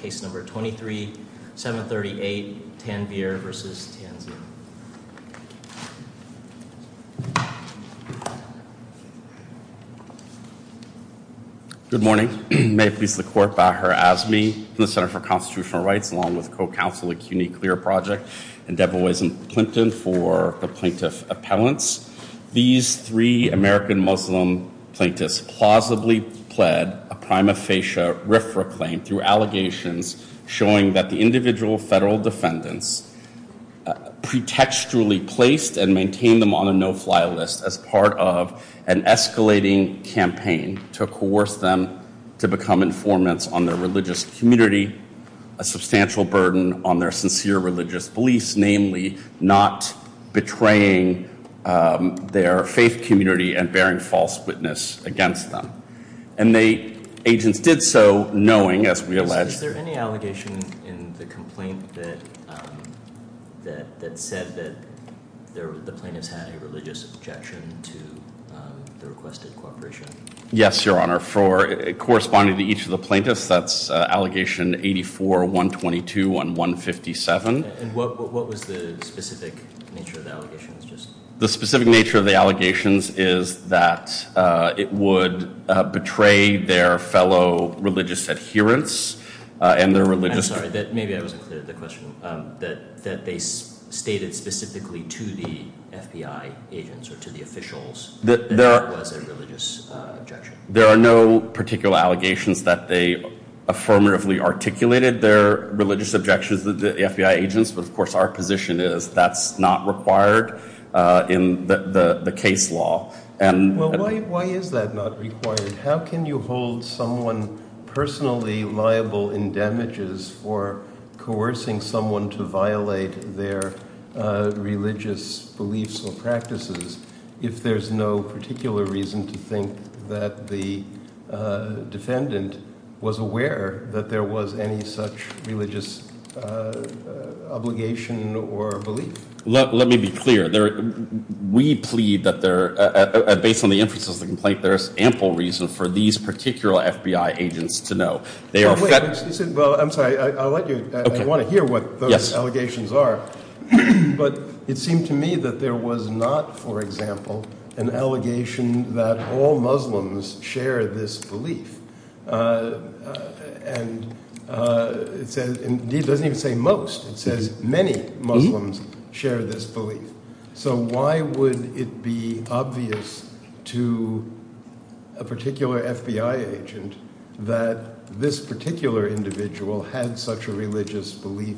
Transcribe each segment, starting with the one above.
case number 23-738 Tanvir v. Tansy. Good morning. May it please the court, Bahar Azmi from the Center for Constitutional Rights along with co-counsel of CUNYCLEAR Project and Debra Wiesen-Clinton for the plaintiff appellants. These three American Muslim plaintiffs plausibly pled a prima facie RIFRA claim through allegations showing that the individual federal defendants pretextually placed and maintained them on a no-fly list as part of an escalating campaign to coerce them to become informants on their religious community, a substantial burden on their sincere religious beliefs, namely not betraying their faith community and bearing false witness against them. And they, agents, did so knowing, as we allege. Is there any allegation in the complaint that said that the plaintiffs had a religious objection to the requested cooperation? Yes, your honor. Corresponding to each of the plaintiffs, that's allegation 84-122 and 157. And what was the specific nature of the allegations? The specific nature of the allegations is that it would betray their fellow religious adherents and their religious... I'm sorry, maybe I wasn't clear with the question. That they stated specifically to the FBI agents or to the officials that there was a religious objection. There are no particular allegations that they affirmatively articulated their religious objections to the FBI agents, but of course our position is that's not required in the case law. Well, why is that not required? How can you hold someone personally liable in damages for coercing someone to violate their religious beliefs or practices if there's no particular reason to think that the defendant was aware that there was any such religious obligation or belief? Let me be clear. We plead that there, based on the emphasis of the complaint, there is ample reason for these particular FBI agents to know. Well, I'm sorry, I want to hear what those allegations are, but it seemed to me that there was not, for example, an allegation that all Muslims share this belief. It doesn't even say most. It says many Muslims share this belief. So why would it be obvious to a particular FBI agent that this particular individual had such a religious belief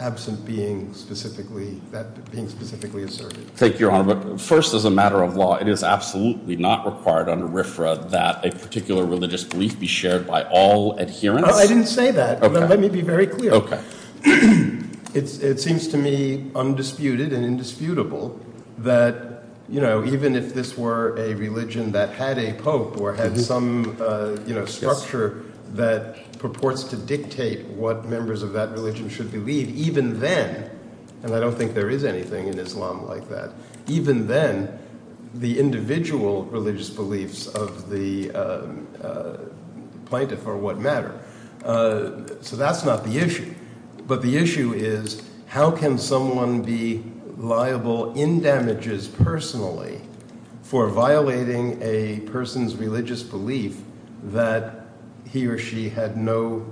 absent that being specifically asserted? First, as a matter of law, it is absolutely not required under RFRA that a particular religious belief be shared by all adherents. I didn't say that. Let me be very clear. It seems to me undisputed and indisputable that even if this were a religion that had a pope or had some structure that purports to dictate what members of that religion should believe, even then, and I don't think there is anything in Islam like that, even then the individual religious beliefs of the plaintiff are what matter. So that's not the issue, but the issue is how can someone be liable in damages personally for violating a person's religious belief that he or she had no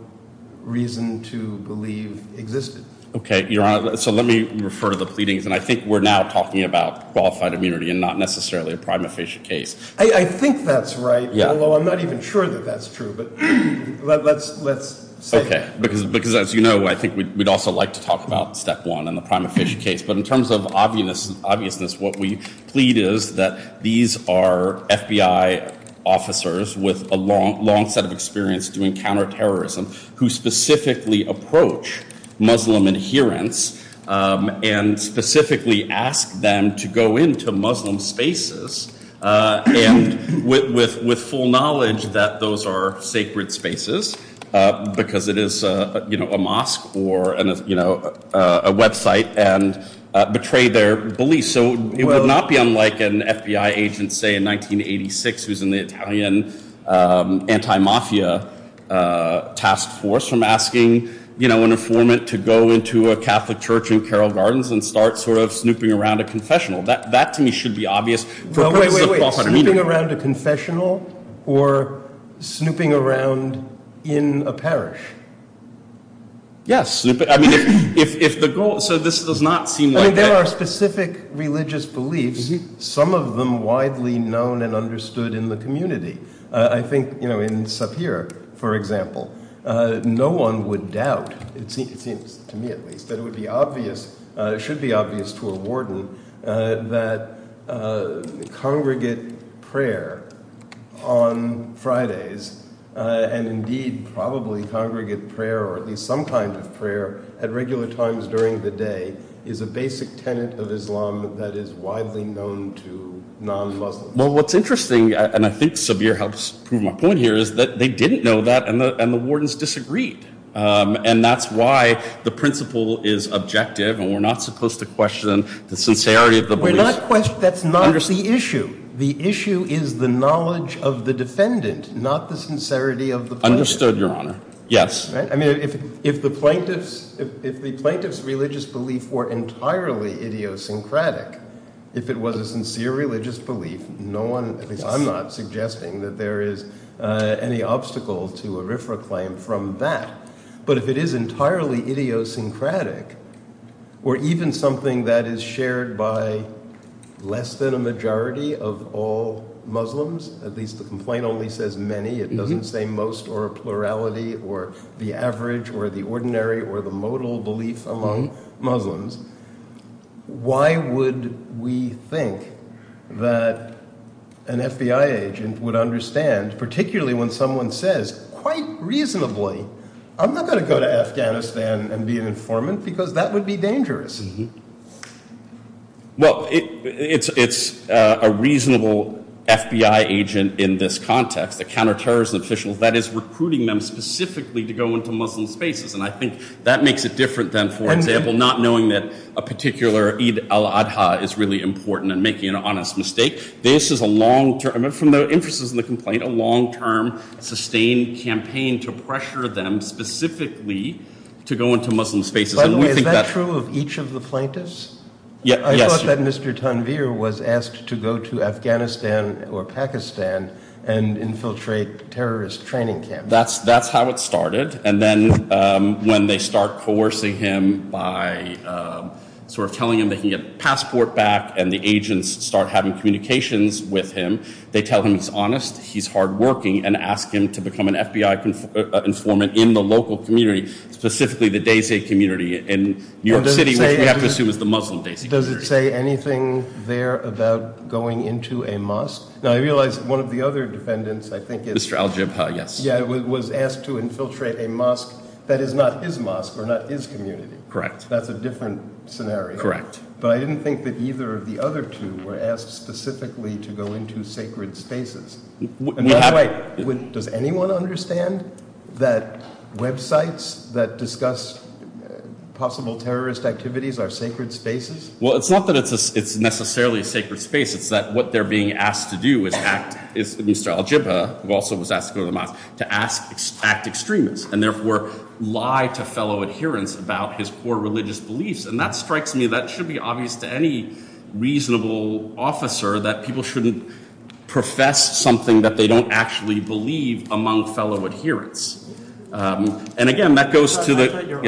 reason to believe existed? Okay, Your Honor, so let me refer to the pleadings, and I think we're now talking about qualified immunity and not necessarily a prima facie case. I think that's right, although I'm not even sure that that's true, but let's say it. Okay, because as you know, I think we'd also like to talk about step one in the prima facie case, but in terms of obviousness, what we plead is that these are FBI officers with a long set of experience doing counterterrorism who specifically approach Muslim adherents and specifically ask them to go into Muslim spaces with full knowledge that those are sacred spaces because it is a mosque or a website and betray their beliefs. So it would not be unlike an FBI agent, say, in 1986 who was in the Italian anti-mafia task force from asking an informant to go into a Catholic church in Carroll Gardens and start sort of snooping around a confessional. That to me should be obvious. Wait, wait, wait, snooping around a confessional or snooping around in a parish? Yes, snooping. So this does not seem like that. I mean, there are specific religious beliefs, some of them widely known and understood in the community. I think in Sapir, for example, no one would doubt, it seems to me at least, that it would be obvious, it should be obvious to a warden that congregate prayer on Fridays and indeed probably congregate prayer or at least some kind of prayer at regular times during the day is a basic tenet of Islam that is widely known to non-Muslims. Well, what's interesting, and I think Sapir helps prove my point here, is that they didn't know that and the wardens disagreed. And that's why the principle is objective and we're not supposed to question the sincerity of the belief. That's not the issue. The issue is the knowledge of the defendant, not the sincerity of the plaintiff. Understood, Your Honor. Yes. I mean, if the plaintiff's religious belief were entirely idiosyncratic, if it was a sincere religious belief, no one, at least I'm not, suggesting that there is any obstacle to a RFRA claim from that. But if it is entirely idiosyncratic or even something that is shared by less than a majority of all Muslims, at least the complaint only says many. It doesn't say most or a plurality or the average or the ordinary or the modal belief among Muslims. Why would we think that an FBI agent would understand, particularly when someone says, quite reasonably, I'm not going to go to Afghanistan and be an informant because that would be dangerous. Well, it's a reasonable FBI agent in this context, the counterterrorism officials, that is recruiting them specifically to go into Muslim spaces. And I think that makes it different than, for example, not knowing that a particular Eid al-Adha is really important and making an honest mistake. This is a long-term, from the interests of the complaint, a long-term, sustained campaign to pressure them specifically to go into Muslim spaces. By the way, is that true of each of the plaintiffs? Yes. I thought that Mr. Tanvir was asked to go to Afghanistan or Pakistan and infiltrate terrorist training camps. That's how it started. And then when they start coercing him by sort of telling him that he can get a passport back and the agents start having communications with him, they tell him he's honest, he's hardworking, and ask him to become an FBI informant in the local community, specifically the Dasey community in New York City, which we have to assume is the Muslim Dasey community. Does it say anything there about going into a mosque? Now, I realize one of the other defendants, I think it's— Mr. Al-Jabha, yes. Yeah, was asked to infiltrate a mosque that is not his mosque or not his community. Correct. That's a different scenario. Correct. But I didn't think that either of the other two were asked specifically to go into sacred spaces. By the way, does anyone understand that websites that discuss possible terrorist activities are sacred spaces? Well, it's not that it's necessarily a sacred space. It's that what they're being asked to do is act—Mr. Al-Jabha, who also was asked to go to the mosque—to act extremist and therefore lie to fellow adherents about his poor religious beliefs. And that strikes me that it should be obvious to any reasonable officer that people shouldn't profess something that they don't actually believe among fellow adherents. And again, that goes to the—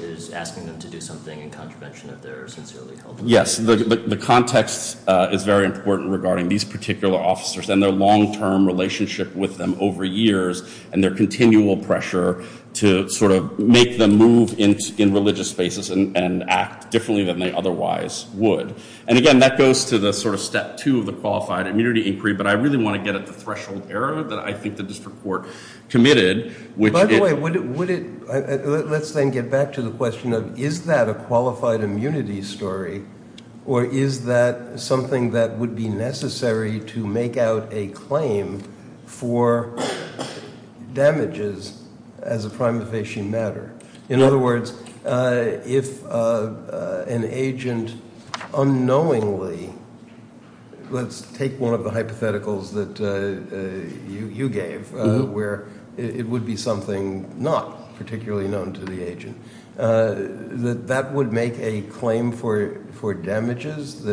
is asking them to do something in contravention of their sincerely held beliefs. Yes. The context is very important regarding these particular officers and their long-term relationship with them over years and their continual pressure to sort of make them move in religious spaces and act differently than they otherwise would. And again, that goes to the sort of step two of the qualified immunity inquiry. But I really want to get at the threshold error that I think the district court committed, which it— let's then get back to the question of is that a qualified immunity story or is that something that would be necessary to make out a claim for damages as a prime facie matter? In other words, if an agent unknowingly— that that would make a claim for damages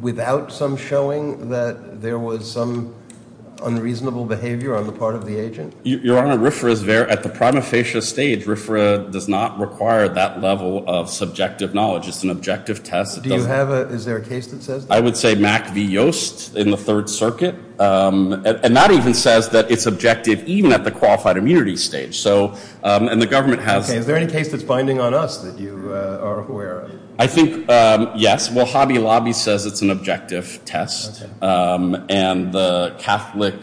without some showing that there was some unreasonable behavior on the part of the agent? Your Honor, RFRA is very—at the prime facie stage, RFRA does not require that level of subjective knowledge. It's an objective test. Do you have a—is there a case that says that? I would say Mack v. Yost in the Third Circuit. And that even says that it's objective even at the qualified immunity stage. So—and the government has— Okay. Is there any case that's binding on us that you are aware of? I think, yes. Well, Hobby Lobby says it's an objective test. Okay. And the Catholic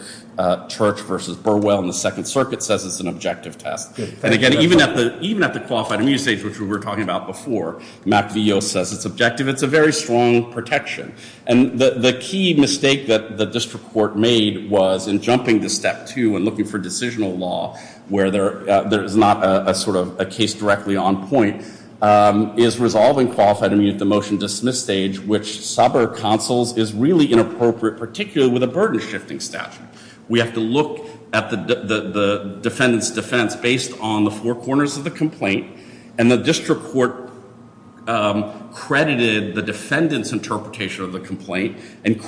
Church versus Burwell in the Second Circuit says it's an objective test. And again, even at the—even at the qualified immunity stage, which we were talking about before, Mack v. Yost says it's objective. It's a very strong protection. And the key mistake that the district court made was in jumping to step two and looking for decisional law where there is not a sort of a case directly on point, is resolving qualified immunity at the motion dismiss stage, which suburb counsels is really inappropriate, particularly with a burden-shifting statute. We have to look at the defendant's defense based on the four corners of the complaint. And the district court credited the defendant's interpretation of the complaint and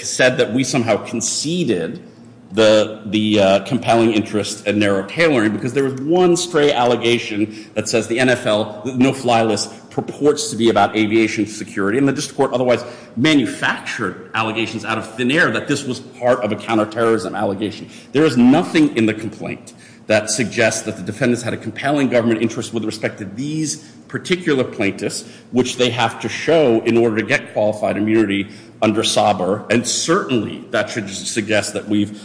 said that we somehow conceded the compelling interest in narrow tailoring because there was one stray allegation that says the NFL, no-fly list, purports to be about aviation security. And the district court otherwise manufactured allegations out of thin air that this was part of a counterterrorism allegation. There is nothing in the complaint that suggests that the defendants had a compelling government interest with respect to these particular plaintiffs, which they have to show in order to get qualified immunity under SABR. And certainly that should suggest that we've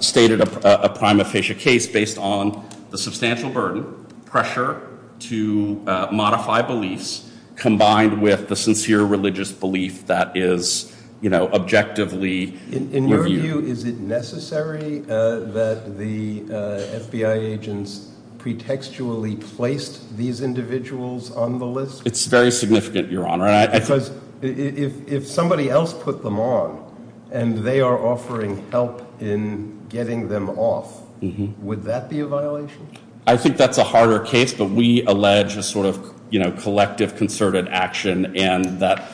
stated a prima facie case based on the substantial burden, pressure to modify beliefs, combined with the sincere religious belief that is, you know, objectively reviewed. Is it necessary that the FBI agents pretextually placed these individuals on the list? It's very significant, Your Honor. Because if somebody else put them on and they are offering help in getting them off, would that be a violation? I think that's a harder case, but we allege a sort of, you know, collective concerted action and that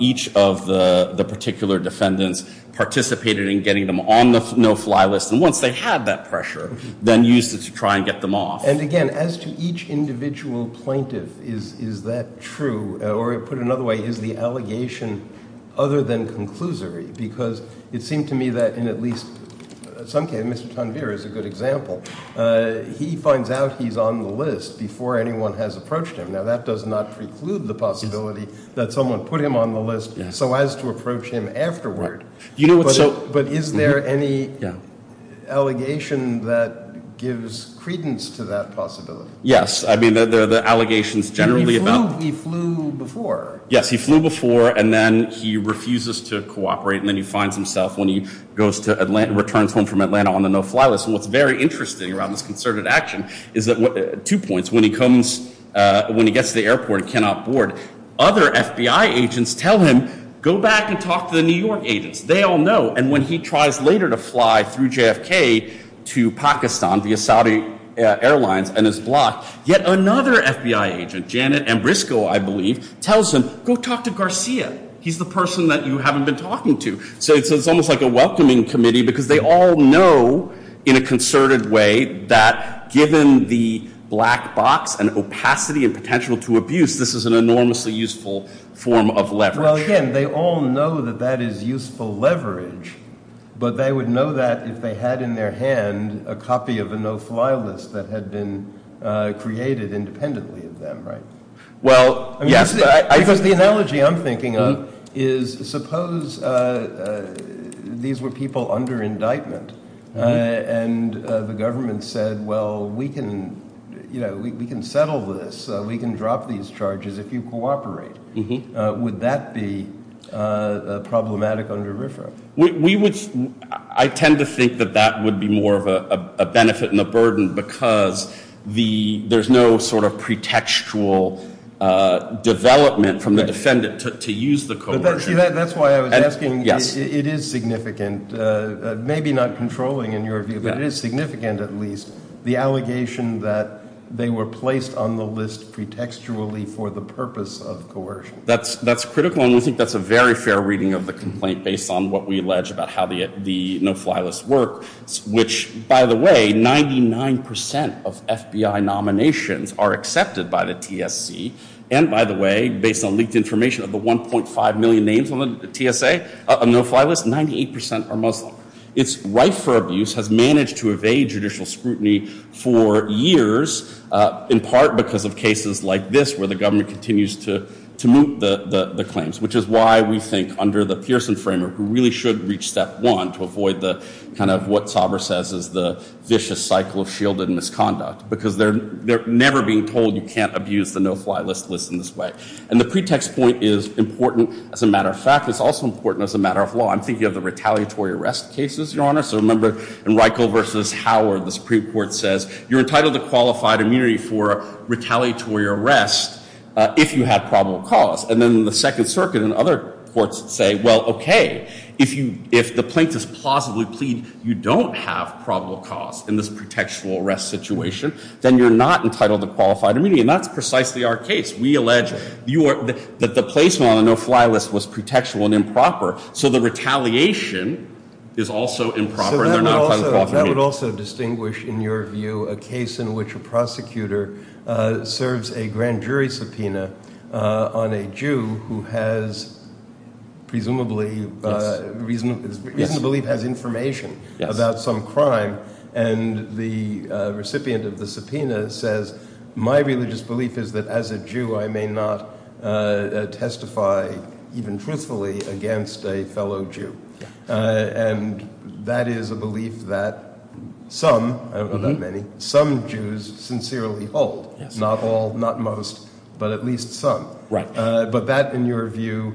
each of the particular defendants participated in getting them on the no-fly list. And once they had that pressure, then used it to try and get them off. And, again, as to each individual plaintiff, is that true? Or put another way, is the allegation other than conclusory? Because it seemed to me that in at least some cases, Mr. Tanvir is a good example. He finds out he's on the list before anyone has approached him. Now, that does not preclude the possibility that someone put him on the list so as to approach him afterward. But is there any allegation that gives credence to that possibility? Yes. I mean, the allegations generally about- He flew before. Yes, he flew before, and then he refuses to cooperate, and then he finds himself when he goes to Atlanta, returns home from Atlanta on the no-fly list. And what's very interesting around this concerted action is that- Two points. When he comes- When he gets to the airport and cannot board, other FBI agents tell him, go back and talk to the New York agents. They all know. And when he tries later to fly through JFK to Pakistan via Saudi Airlines and is blocked, yet another FBI agent, Janet Ambrisco, I believe, tells him, go talk to Garcia. He's the person that you haven't been talking to. So it's almost like a welcoming committee because they all know, in a concerted way, that given the black box and opacity and potential to abuse, this is an enormously useful form of leverage. Well, again, they all know that that is useful leverage, but they would know that if they had in their hand a copy of a no-fly list that had been created independently of them, right? Well, yes. Because the analogy I'm thinking of is suppose these were people under indictment and the government said, well, we can settle this, we can drop these charges if you cooperate. Would that be problematic under RFRA? We would- I tend to think that that would be more of a benefit and a burden because there's no sort of pretextual development from the defendant to use the coercion. That's why I was asking, it is significant, maybe not controlling in your view, but it is significant at least, the allegation that they were placed on the list pretextually for the purpose of coercion. That's critical, and I think that's a very fair reading of the complaint based on what we allege about how the no-fly list works, which, by the way, 99% of FBI nominations are accepted by the TSC, and by the way, based on leaked information of the 1.5 million names on the TSA, on the no-fly list, 98% are Muslim. It's rife for abuse, has managed to evade judicial scrutiny for years, in part because of cases like this where the government continues to moot the claims, which is why we think under the Pearson framework, we really should reach step one to avoid kind of what Sauber says is the vicious cycle of shielded misconduct because they're never being told you can't abuse the no-fly list in this way. And the pretext point is important as a matter of fact. It's also important as a matter of law. I'm thinking of the retaliatory arrest cases, Your Honor, so remember in Reichel v. Howard, the Supreme Court says you're entitled to qualified immunity for retaliatory arrest if you have probable cause, and then the Second Circuit and other courts say, well, okay, if the plaintiffs plausibly plead you don't have probable cause in this pretextual arrest situation, then you're not entitled to qualified immunity, and that's precisely our case. We allege that the placement on the no-fly list was pretextual and improper, so the retaliation is also improper and they're not qualified immunity. So that would also distinguish, in your view, a case in which a prosecutor serves a grand jury subpoena on a Jew who has presumably reason to believe has information about some crime, and the recipient of the subpoena says, my religious belief is that as a Jew I may not testify, even truthfully, against a fellow Jew. And that is a belief that some, I don't know about many, some Jews sincerely hold. Not all, not most, but at least some. But that, in your view,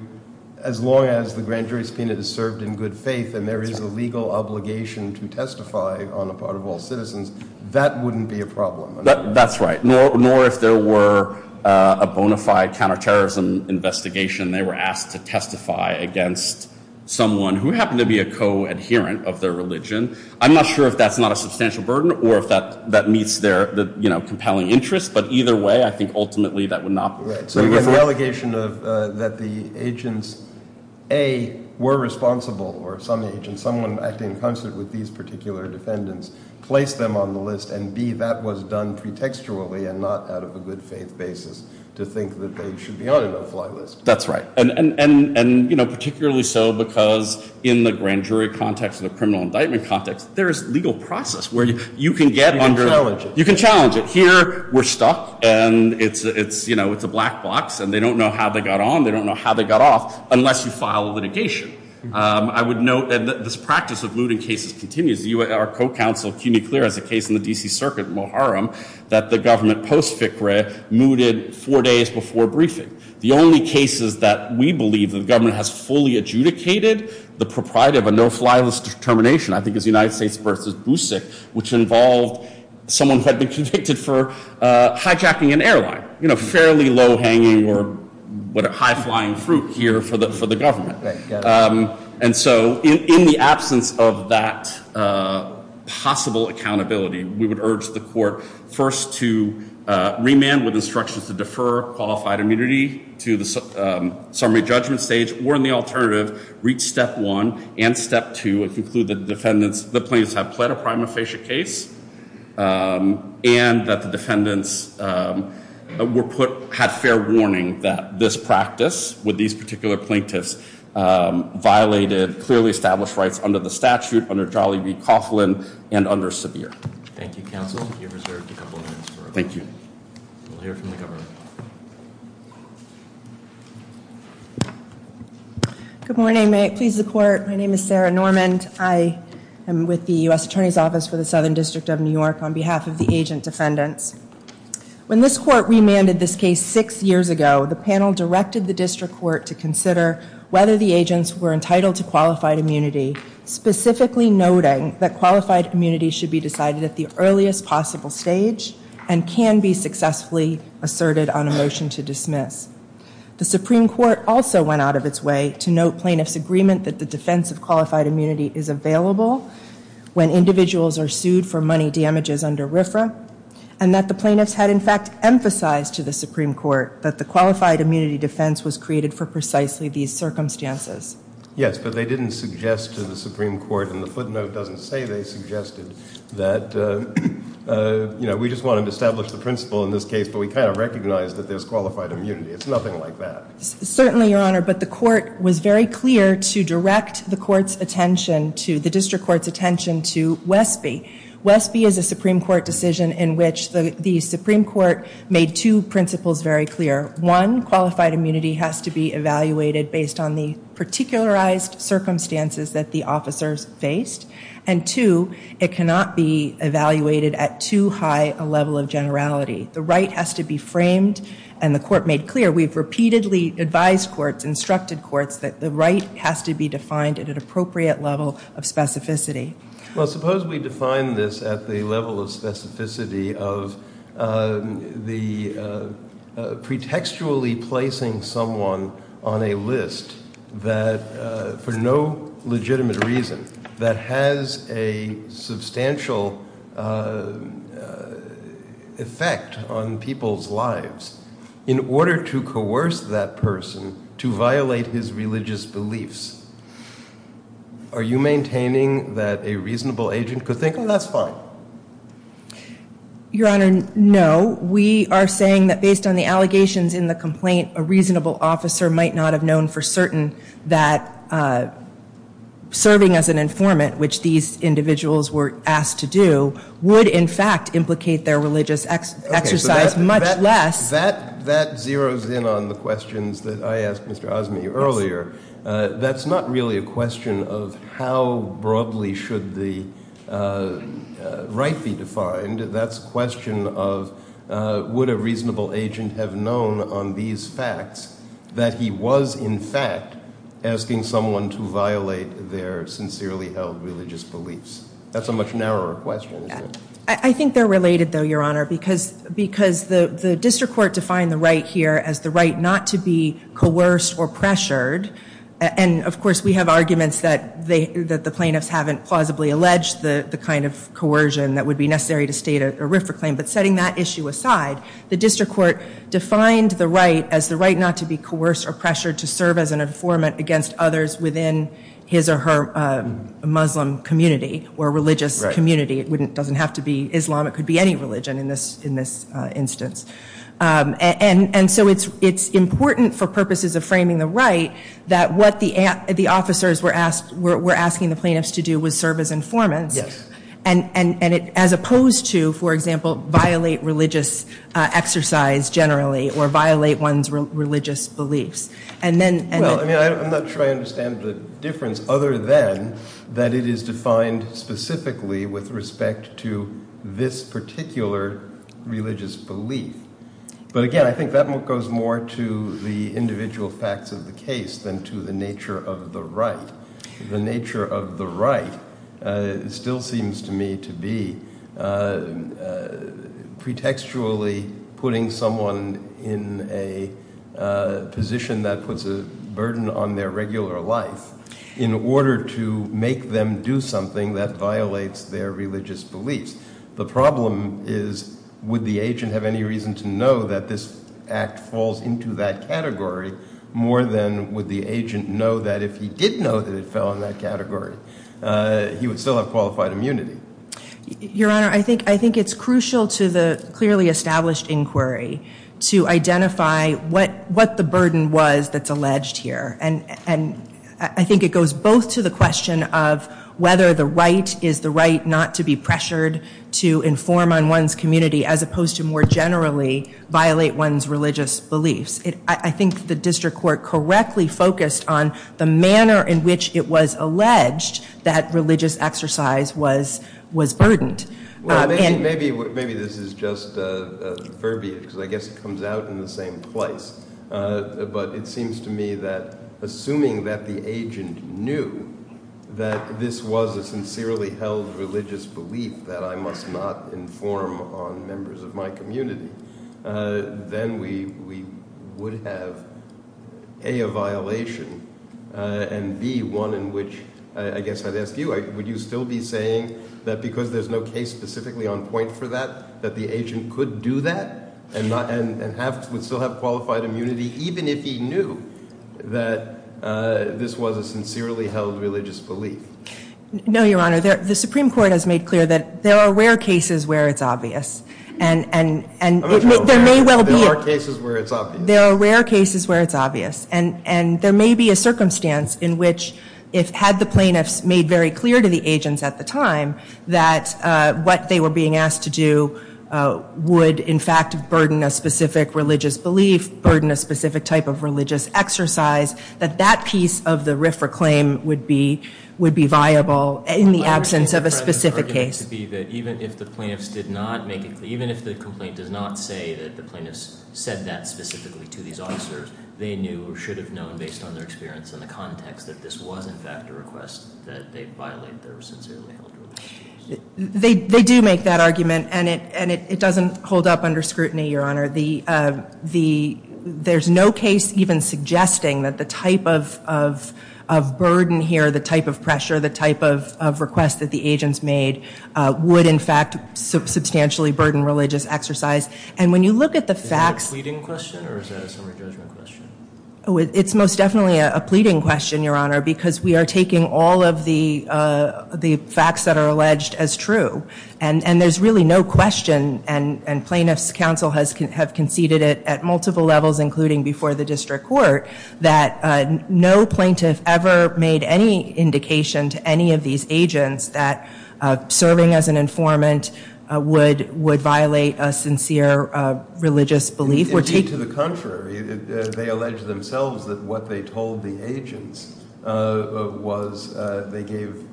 as long as the grand jury subpoena is served in good faith and there is a legal obligation to testify on the part of all citizens, that wouldn't be a problem. That's right. More if there were a bona fide counterterrorism investigation, they were asked to testify against someone who happened to be a co-adherent of their religion. I'm not sure if that's not a substantial burden or if that meets their compelling interest, but either way I think ultimately that would not be right. So you get the allegation that the agents, A, were responsible, or some agents, someone acting in concert with these particular defendants, placed them on the list, and B, that was done pretextually and not out of a good faith basis to think that they should be on a no-fly list. That's right. And particularly so because in the grand jury context and the criminal indictment context, there is legal process where you can get under- You can challenge it. You can challenge it. Here we're stuck and it's a black box and they don't know how they got on, they don't know how they got off, unless you file a litigation. I would note that this practice of mooting cases continues. Our co-counsel, Cuny Clear, has a case in the D.C. Circuit, Moharam, that the government post-ficre mooted four days before briefing. The only cases that we believe that the government has fully adjudicated, the propriety of a no-fly list determination, I think, is the United States v. Boussic, which involved someone who had been convicted for hijacking an airline. You know, fairly low-hanging or high-flying fruit here for the government. And so in the absence of that possible accountability, we would urge the court first to remand with instructions to defer qualified immunity to the summary judgment stage, or in the alternative, reach step one and step two and conclude that the plaintiffs have pled a prima facie case and that the defendants were put- had fair warning that this practice with these particular plaintiffs violated clearly established rights under the statute, under Charlie v. Coughlin and under Sevier. Thank you, counsel. You're reserved a couple of minutes. Thank you. We'll hear from the government. Good morning. May it please the court, my name is Sarah Normand. I am with the U.S. Attorney's Office for the Southern District of New York on behalf of the agent defendants. When this court remanded this case six years ago, the panel directed the district court to consider whether the agents were entitled to qualified immunity, specifically noting that qualified immunity should be decided at the earliest possible stage and can be successfully asserted on a motion to dismiss. The Supreme Court also went out of its way to note plaintiffs' agreement that the defense of qualified immunity is available when individuals are sued for money damages under RFRA and that the plaintiffs had in fact emphasized to the Supreme Court that the qualified immunity defense was created for precisely these circumstances. Yes, but they didn't suggest to the Supreme Court, and the footnote doesn't say they suggested that, you know, we just wanted to establish the principle in this case, but we kind of recognized that there's qualified immunity. It's nothing like that. Certainly, Your Honor, but the court was very clear to direct the court's attention to, the district court's attention to WESB. WESB is a Supreme Court decision in which the Supreme Court made two principles very clear. One, qualified immunity has to be evaluated based on the particularized circumstances that the officers faced, and two, it cannot be evaluated at too high a level of generality. The right has to be framed, and the court made clear. We've repeatedly advised courts, instructed courts, that the right has to be defined at an appropriate level of specificity. Well, suppose we define this at the level of specificity of the pretextually placing someone on a list that for no legitimate reason that has a substantial effect on people's lives in order to coerce that person to violate his religious beliefs. Are you maintaining that a reasonable agent could think, oh, that's fine? Your Honor, no. We are saying that based on the allegations in the complaint, a reasonable officer might not have known for certain that serving as an informant, which these individuals were asked to do, would in fact implicate their religious exercise much less. That zeroes in on the questions that I asked Mr. Osme earlier. That's not really a question of how broadly should the right be defined. That's a question of would a reasonable agent have known on these facts that he was in fact asking someone to violate their sincerely held religious beliefs. That's a much narrower question, isn't it? I think they're related, though, Your Honor, because the district court defined the right here as the right not to be coerced or pressured. And, of course, we have arguments that the plaintiffs haven't plausibly alleged the kind of coercion that would be necessary to state a RIFRA claim. But setting that issue aside, the district court defined the right as the right not to be coerced or pressured to serve as an informant against others within his or her Muslim community or religious community. It doesn't have to be Islam. It could be any religion in this instance. And so it's important for purposes of framing the right that what the officers were asking the plaintiffs to do was serve as informants as opposed to, for example, violate religious exercise generally or violate one's religious beliefs. I'm not sure I understand the difference other than that it is defined specifically with respect to this particular religious belief. But, again, I think that goes more to the individual facts of the case than to the nature of the right. The nature of the right still seems to me to be pretextually putting someone in a position that puts a burden on their regular life in order to make them do something that violates their religious beliefs. The problem is would the agent have any reason to know that this act falls into that category more than would the agent know that if he did know that it fell in that category, he would still have qualified immunity. Your Honor, I think it's crucial to the clearly established inquiry to identify what the burden was that's alleged here. And I think it goes both to the question of whether the right is the right not to be pressured to inform on one's community as opposed to more generally violate one's religious beliefs. I think the district court correctly focused on the manner in which it was alleged that religious exercise was burdened. Maybe this is just a verbiage because I guess it comes out in the same place. But it seems to me that assuming that the agent knew that this was a sincerely held religious belief that I must not inform on members of my community, then we would have A, a violation, and B, one in which I guess I'd ask you, would you still be saying that because there's no case specifically on point for that, that the agent could do that and would still have qualified immunity even if he knew that this was a sincerely held religious belief? No, Your Honor. The Supreme Court has made clear that there are rare cases where it's obvious. And there may well be. There are cases where it's obvious. There are rare cases where it's obvious. And there may be a circumstance in which if had the plaintiffs made very clear to the agents at the time that what they were being asked to do would in fact burden a specific religious belief, burden a specific type of religious exercise, that that piece of the RIFRA claim would be viable in the absence of a specific case. I understand the argument to be that even if the plaintiffs did not make it clear, even if the complaint does not say that the plaintiffs said that specifically to these officers, they knew or should have known based on their experience and the context that this was in fact a request, that they violate their sincerely held religious beliefs. They do make that argument. And it doesn't hold up under scrutiny, Your Honor. There's no case even suggesting that the type of burden here, the type of pressure, the type of request that the agents made would in fact substantially burden religious exercise. And when you look at the facts... Is that a pleading question or is that a summary judgment question? It's most definitely a pleading question, Your Honor, because we are taking all of the facts that are alleged as true. And there's really no question, and plaintiffs' counsel have conceded it at multiple levels, including before the district court, that no plaintiff ever made any indication to any of these agents that serving as an informant would violate a sincere religious belief. Indeed, to the contrary. They allege themselves that what they told the agents was they gave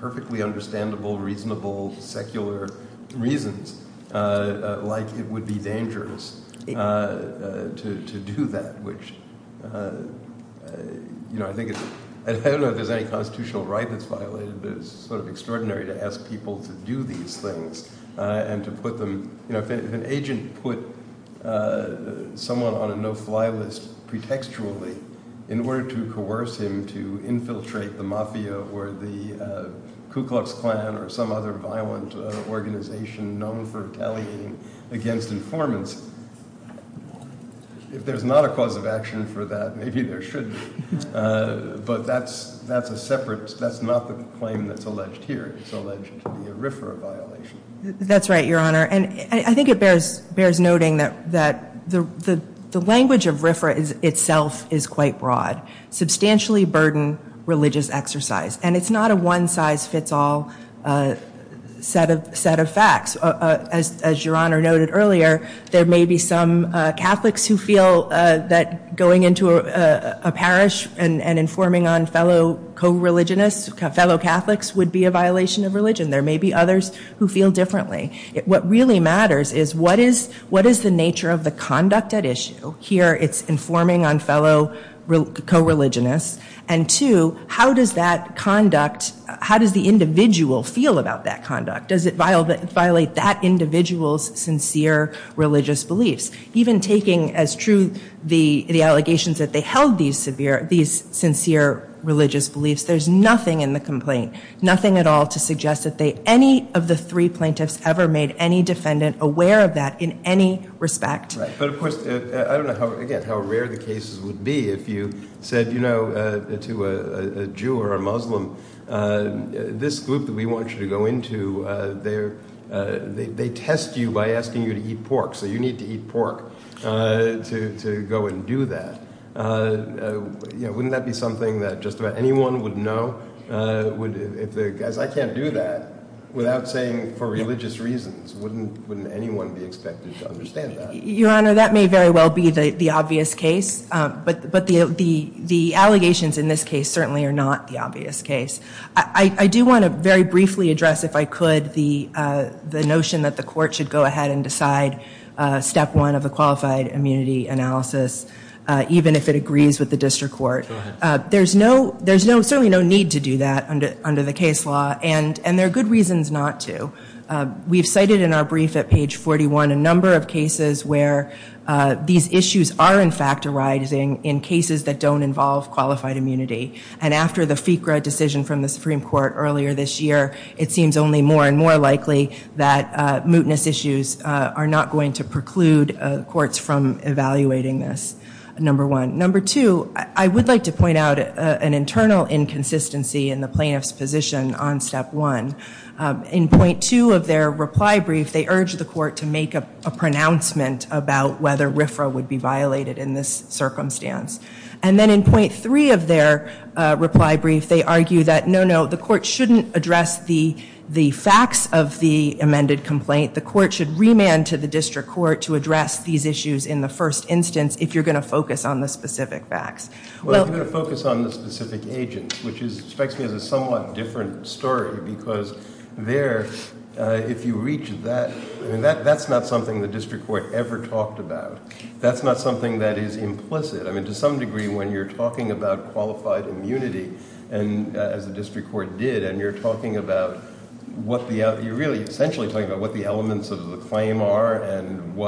perfectly understandable, reasonable, secular reasons, like it would be dangerous to do that, which, you know, I think it's... I don't know if there's any constitutional right that's violated, but it's sort of extraordinary to ask people to do these things and to put them... You know, if an agent put someone on a no-fly list pretextually in order to coerce him to infiltrate the mafia or the Ku Klux Klan or some other violent organization known for retaliating against informants, if there's not a cause of action for that, maybe there should be. But that's a separate... That's not the claim that's alleged here. It's alleged to be a RFRA violation. That's right, Your Honor. And I think it bears noting that the language of RFRA itself is quite broad. Substantially burdened religious exercise. And it's not a one-size-fits-all set of facts. As Your Honor noted earlier, there may be some Catholics who feel that going into a parish and informing on fellow co-religionists, fellow Catholics, would be a violation of religion. There may be others who feel differently. What really matters is what is the nature of the conduct at issue? Here it's informing on fellow co-religionists. And two, how does that conduct... How does the individual feel about that conduct? Does it violate that individual's sincere religious beliefs? Even taking as true the allegations that they held these sincere religious beliefs, there's nothing in the complaint, nothing at all to suggest that any of the three plaintiffs ever made any defendant aware of that in any respect. But, of course, I don't know, again, how rare the cases would be if you said to a Jew or a Muslim, this group that we want you to go into, they test you by asking you to eat pork, so you need to eat pork to go and do that. Wouldn't that be something that just about anyone would know? As I can't do that without saying for religious reasons, wouldn't anyone be expected to understand that? Your Honor, that may very well be the obvious case, but the allegations in this case certainly are not the obvious case. I do want to very briefly address, if I could, the notion that the court should go ahead and decide step one of a qualified immunity analysis, even if it agrees with the district court. Go ahead. There's certainly no need to do that under the case law, and there are good reasons not to. We've cited in our brief at page 41 a number of cases where these issues are, in fact, arising in cases that don't involve qualified immunity. And after the FICRA decision from the Supreme Court earlier this year, it seems only more and more likely that mootness issues are not going to preclude courts from evaluating this, number one. Number two, I would like to point out an internal inconsistency in the plaintiff's position on step one. In point two of their reply brief, they urged the court to make a pronouncement about whether RFRA would be violated in this circumstance. And then in point three of their reply brief, they argue that, no, no, the court shouldn't address the facts of the amended complaint. The court should remand to the district court to address these issues in the first instance if you're going to focus on the specific facts. Well, if you're going to focus on the specific agents, which strikes me as a somewhat different story, because there, if you reach that, that's not something the district court ever talked about. That's not something that is implicit. I mean, to some degree, when you're talking about qualified immunity, as the district court did, and you're talking about what the elements of the claim are and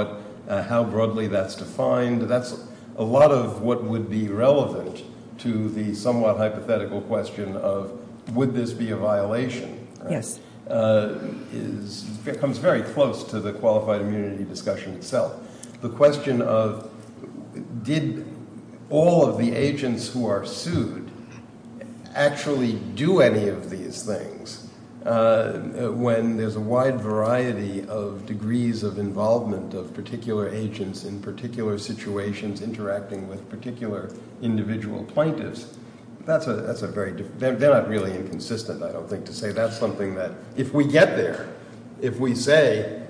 how broadly that's defined, that's a lot of what would be relevant to the somewhat hypothetical question of would this be a violation. Yes. It comes very close to the qualified immunity discussion itself. The question of did all of the agents who are sued actually do any of these things when there's a wide variety of degrees of involvement of particular agents in particular situations interacting with particular individual plaintiffs. That's a very – they're not really inconsistent, I don't think, to say that's something that if we get there, if we say,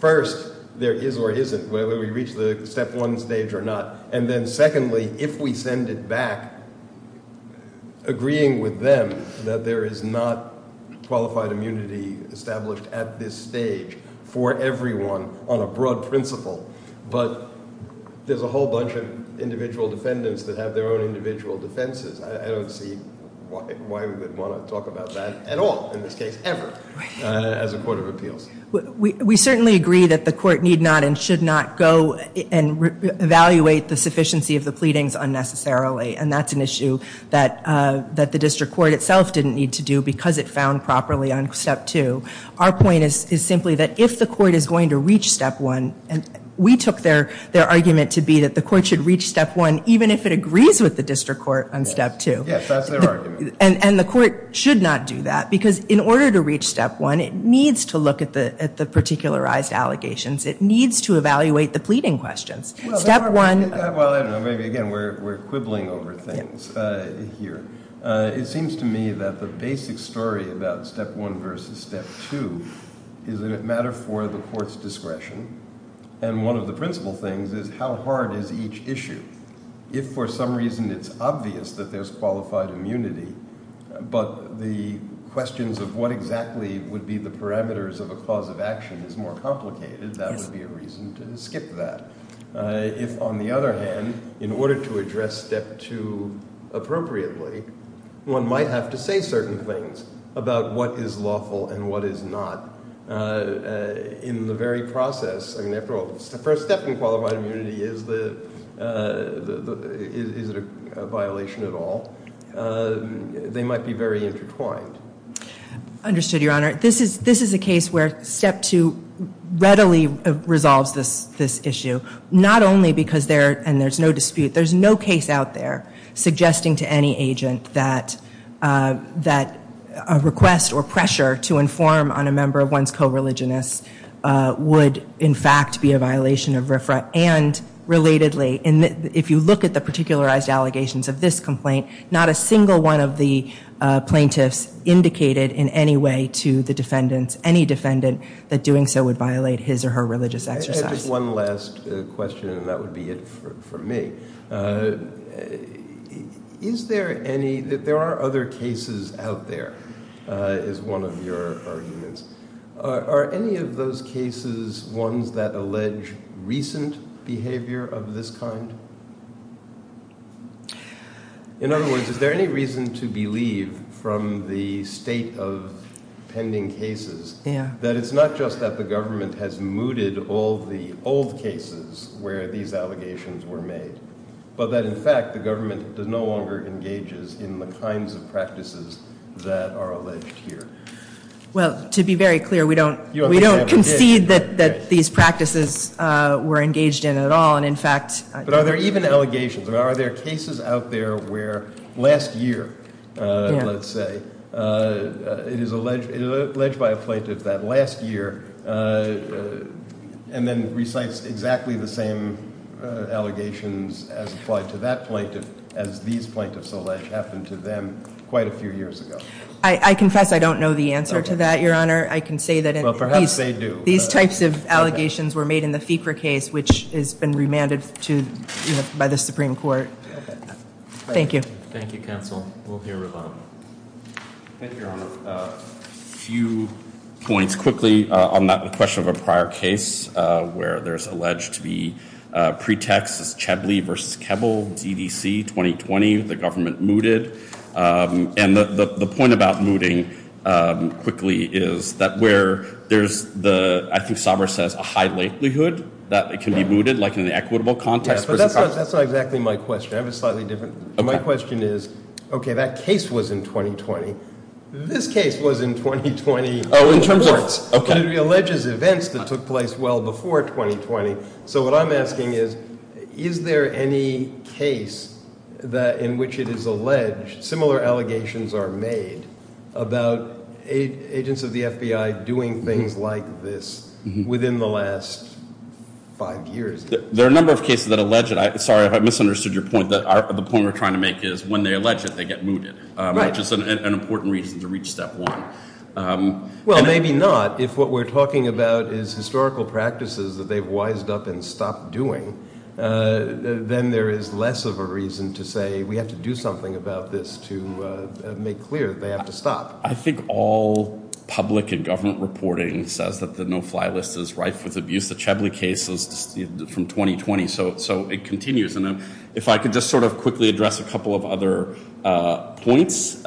first, there is or isn't, whether we reach the step one stage or not, and then secondly, if we send it back, agreeing with them that there is not qualified immunity established at this stage for everyone on a broad principle, but there's a whole bunch of individual defendants that have their own individual defenses. I don't see why we would want to talk about that at all in this case ever as a court of appeals. We certainly agree that the court need not and should not go and evaluate the sufficiency of the pleadings unnecessarily, and that's an issue that the district court itself didn't need to do because it found properly on step two. Our point is simply that if the court is going to reach step one, and we took their argument to be that the court should reach step one even if it agrees with the district court on step two. Yes, that's their argument. And the court should not do that because in order to reach step one, it needs to look at the particularized allegations. It needs to evaluate the pleading questions. Well, I don't know. Maybe, again, we're quibbling over things here. It seems to me that the basic story about step one versus step two is that it matters for the court's discretion, and one of the principle things is how hard is each issue. If for some reason it's obvious that there's qualified immunity, but the questions of what exactly would be the parameters of a cause of action is more complicated, that would be a reason to skip that. If, on the other hand, in order to address step two appropriately, one might have to say certain things about what is lawful and what is not in the very process. I mean, after all, the first step in qualified immunity is the, is it a violation at all? They might be very intertwined. Understood, Your Honor. This is a case where step two readily resolves this issue, not only because there, and there's no dispute, there's no case out there suggesting to any agent that a request or pressure to inform on a member of one's co-religionist would, in fact, be a violation of RFRA and, relatedly, if you look at the particularized allegations of this complaint, not a single one of the plaintiffs indicated in any way to the defendants, any defendant, that doing so would violate his or her religious exercise. I had just one last question, and that would be it for me. Is there any, there are other cases out there, is one of your arguments. Are any of those cases ones that allege recent behavior of this kind? In other words, is there any reason to believe, from the state of pending cases, that it's not just that the government has mooted all the old cases where these allegations were made, but that, in fact, the government no longer engages in the kinds of practices that are alleged here? Well, to be very clear, we don't concede that these practices were engaged in at all, and, in fact. But are there even allegations, or are there cases out there where last year, let's say, it is alleged by a plaintiff that last year, and then recites exactly the same allegations as applied to that plaintiff, as these plaintiffs allege happened to them quite a few years ago? I confess I don't know the answer to that, Your Honor. I can say that these types of allegations were made in the FICRA case, which has been remanded by the Supreme Court. Thank you. Thank you, Counsel. We'll hear from them. Thank you, Your Honor. A few points quickly on that question of a prior case where there's alleged to be pretexts, Chablis v. Keble, DDC 2020, the government mooted. And the point about mooting quickly is that where there's the, I think Chablis says, a high likelihood that it can be mooted, like in the equitable context. But that's not exactly my question. I have a slightly different. My question is, okay, that case was in 2020. This case was in 2020. Oh, in terms of? But it alleges events that took place well before 2020. So what I'm asking is, is there any case in which it is alleged, similar allegations are made about agents of the FBI doing things like this within the last five years? There are a number of cases that allege it. Sorry if I misunderstood your point. The point we're trying to make is when they allege it, they get mooted, which is an important reason to reach step one. Well, maybe not. If what we're talking about is historical practices that they've wised up and stopped doing, then there is less of a reason to say we have to do something about this to make clear that they have to stop. I think all public and government reporting says that the no fly list is rife with abuse. The Chablis case is from 2020. So it continues. And if I could just sort of quickly address a couple of other points.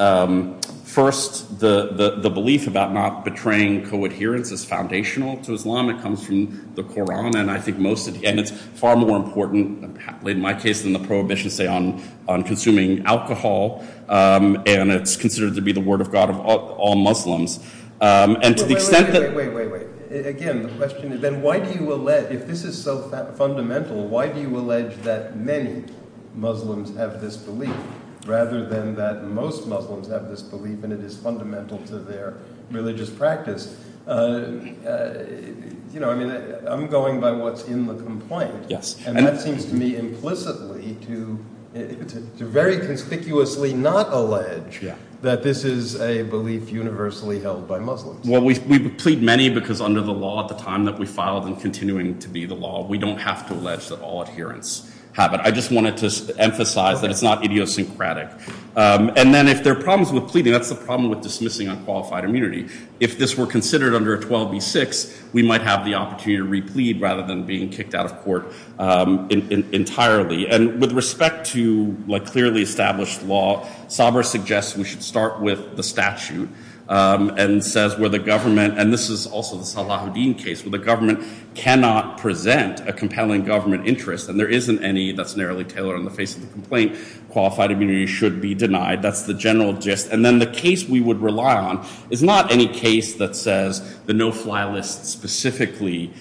First, the belief about not betraying co-adherence is foundational to Islam. It comes from the Koran, and I think most of it, and it's far more important, in my case, than the prohibition, say, on consuming alcohol. And it's considered to be the word of God of all Muslims. And to the extent that. Wait, wait, wait. Again, the question is then why do you allege, if this is so fundamental, why do you allege that many Muslims have this belief rather than that most Muslims have this belief and it is fundamental to their religious practice? You know, I mean, I'm going by what's in the complaint. Yes. And that seems to me implicitly to very conspicuously not allege that this is a belief universally held by Muslims. Well, we plead many because under the law at the time that we filed and continuing to be the law, we don't have to allege that all adherents have it. I just wanted to emphasize that it's not idiosyncratic. And then if there are problems with pleading, that's the problem with dismissing unqualified immunity. If this were considered under 12b-6, we might have the opportunity to re-plead rather than being kicked out of court entirely. And with respect to, like, clearly established law, Saber suggests we should start with the statute and says where the government, and this is also the Salahuddin case, where the government cannot present a compelling government interest and there isn't any that's narrowly tailored on the face of the complaint, qualified immunity should be denied. That's the general gist. And then the case we would rely on is not any case that says the no-fly list specifically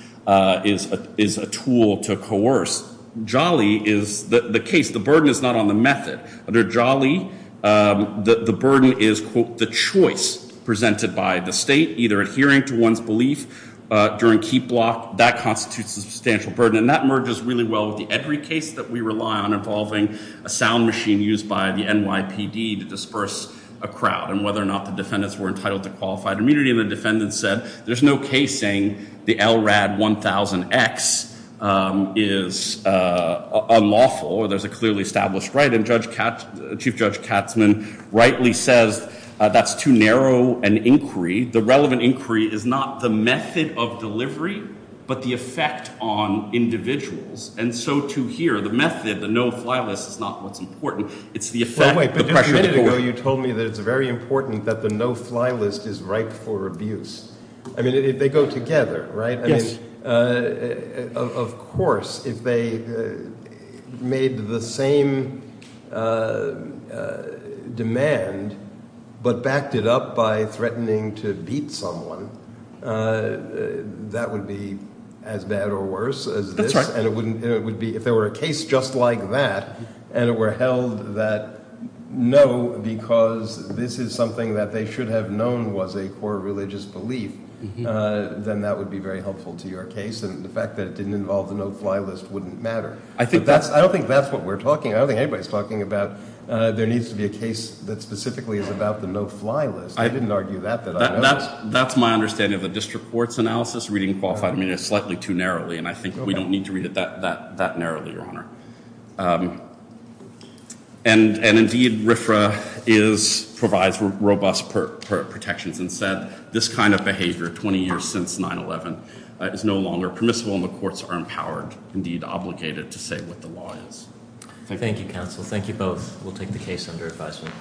is a tool to coerce. JALI is the case. The burden is not on the method. Under JALI, the burden is, quote, the choice presented by the state, either adhering to one's belief during key block, that constitutes a substantial burden. And that merges really well with the Edry case that we rely on involving a sound machine used by the NYPD to disperse a crowd and whether or not the defendants were entitled to qualified immunity. And the defendant said there's no case saying the LRAD 1000X is unlawful or there's a clearly established right. And Chief Judge Katzman rightly says that's too narrow an inquiry. The relevant inquiry is not the method of delivery but the effect on individuals. And so, too, here, the method, the no-fly list, is not what's important. It's the effect, the pressure to coerce. Wait, but just a minute ago you told me that it's very important that the no-fly list is right for abuse. I mean, they go together, right? Yes. Of course, if they made the same demand but backed it up by threatening to beat someone, that would be as bad or worse as this. If there were a case just like that and it were held that no, because this is something that they should have known was a core religious belief, then that would be very helpful to your case. And the fact that it didn't involve the no-fly list wouldn't matter. I don't think that's what we're talking about. I don't think anybody's talking about there needs to be a case that specifically is about the no-fly list. I didn't argue that. That's my understanding of the district court's analysis. It's slightly too narrowly, and I think we don't need to read it that narrowly, Your Honour. And indeed RFRA provides robust protections and said this kind of behaviour 20 years since 9-11 is no longer permissible, and the courts are empowered, indeed obligated, to say what the law is. Thank you. Thank you, counsel. Thank you both. We'll take the case under advisement.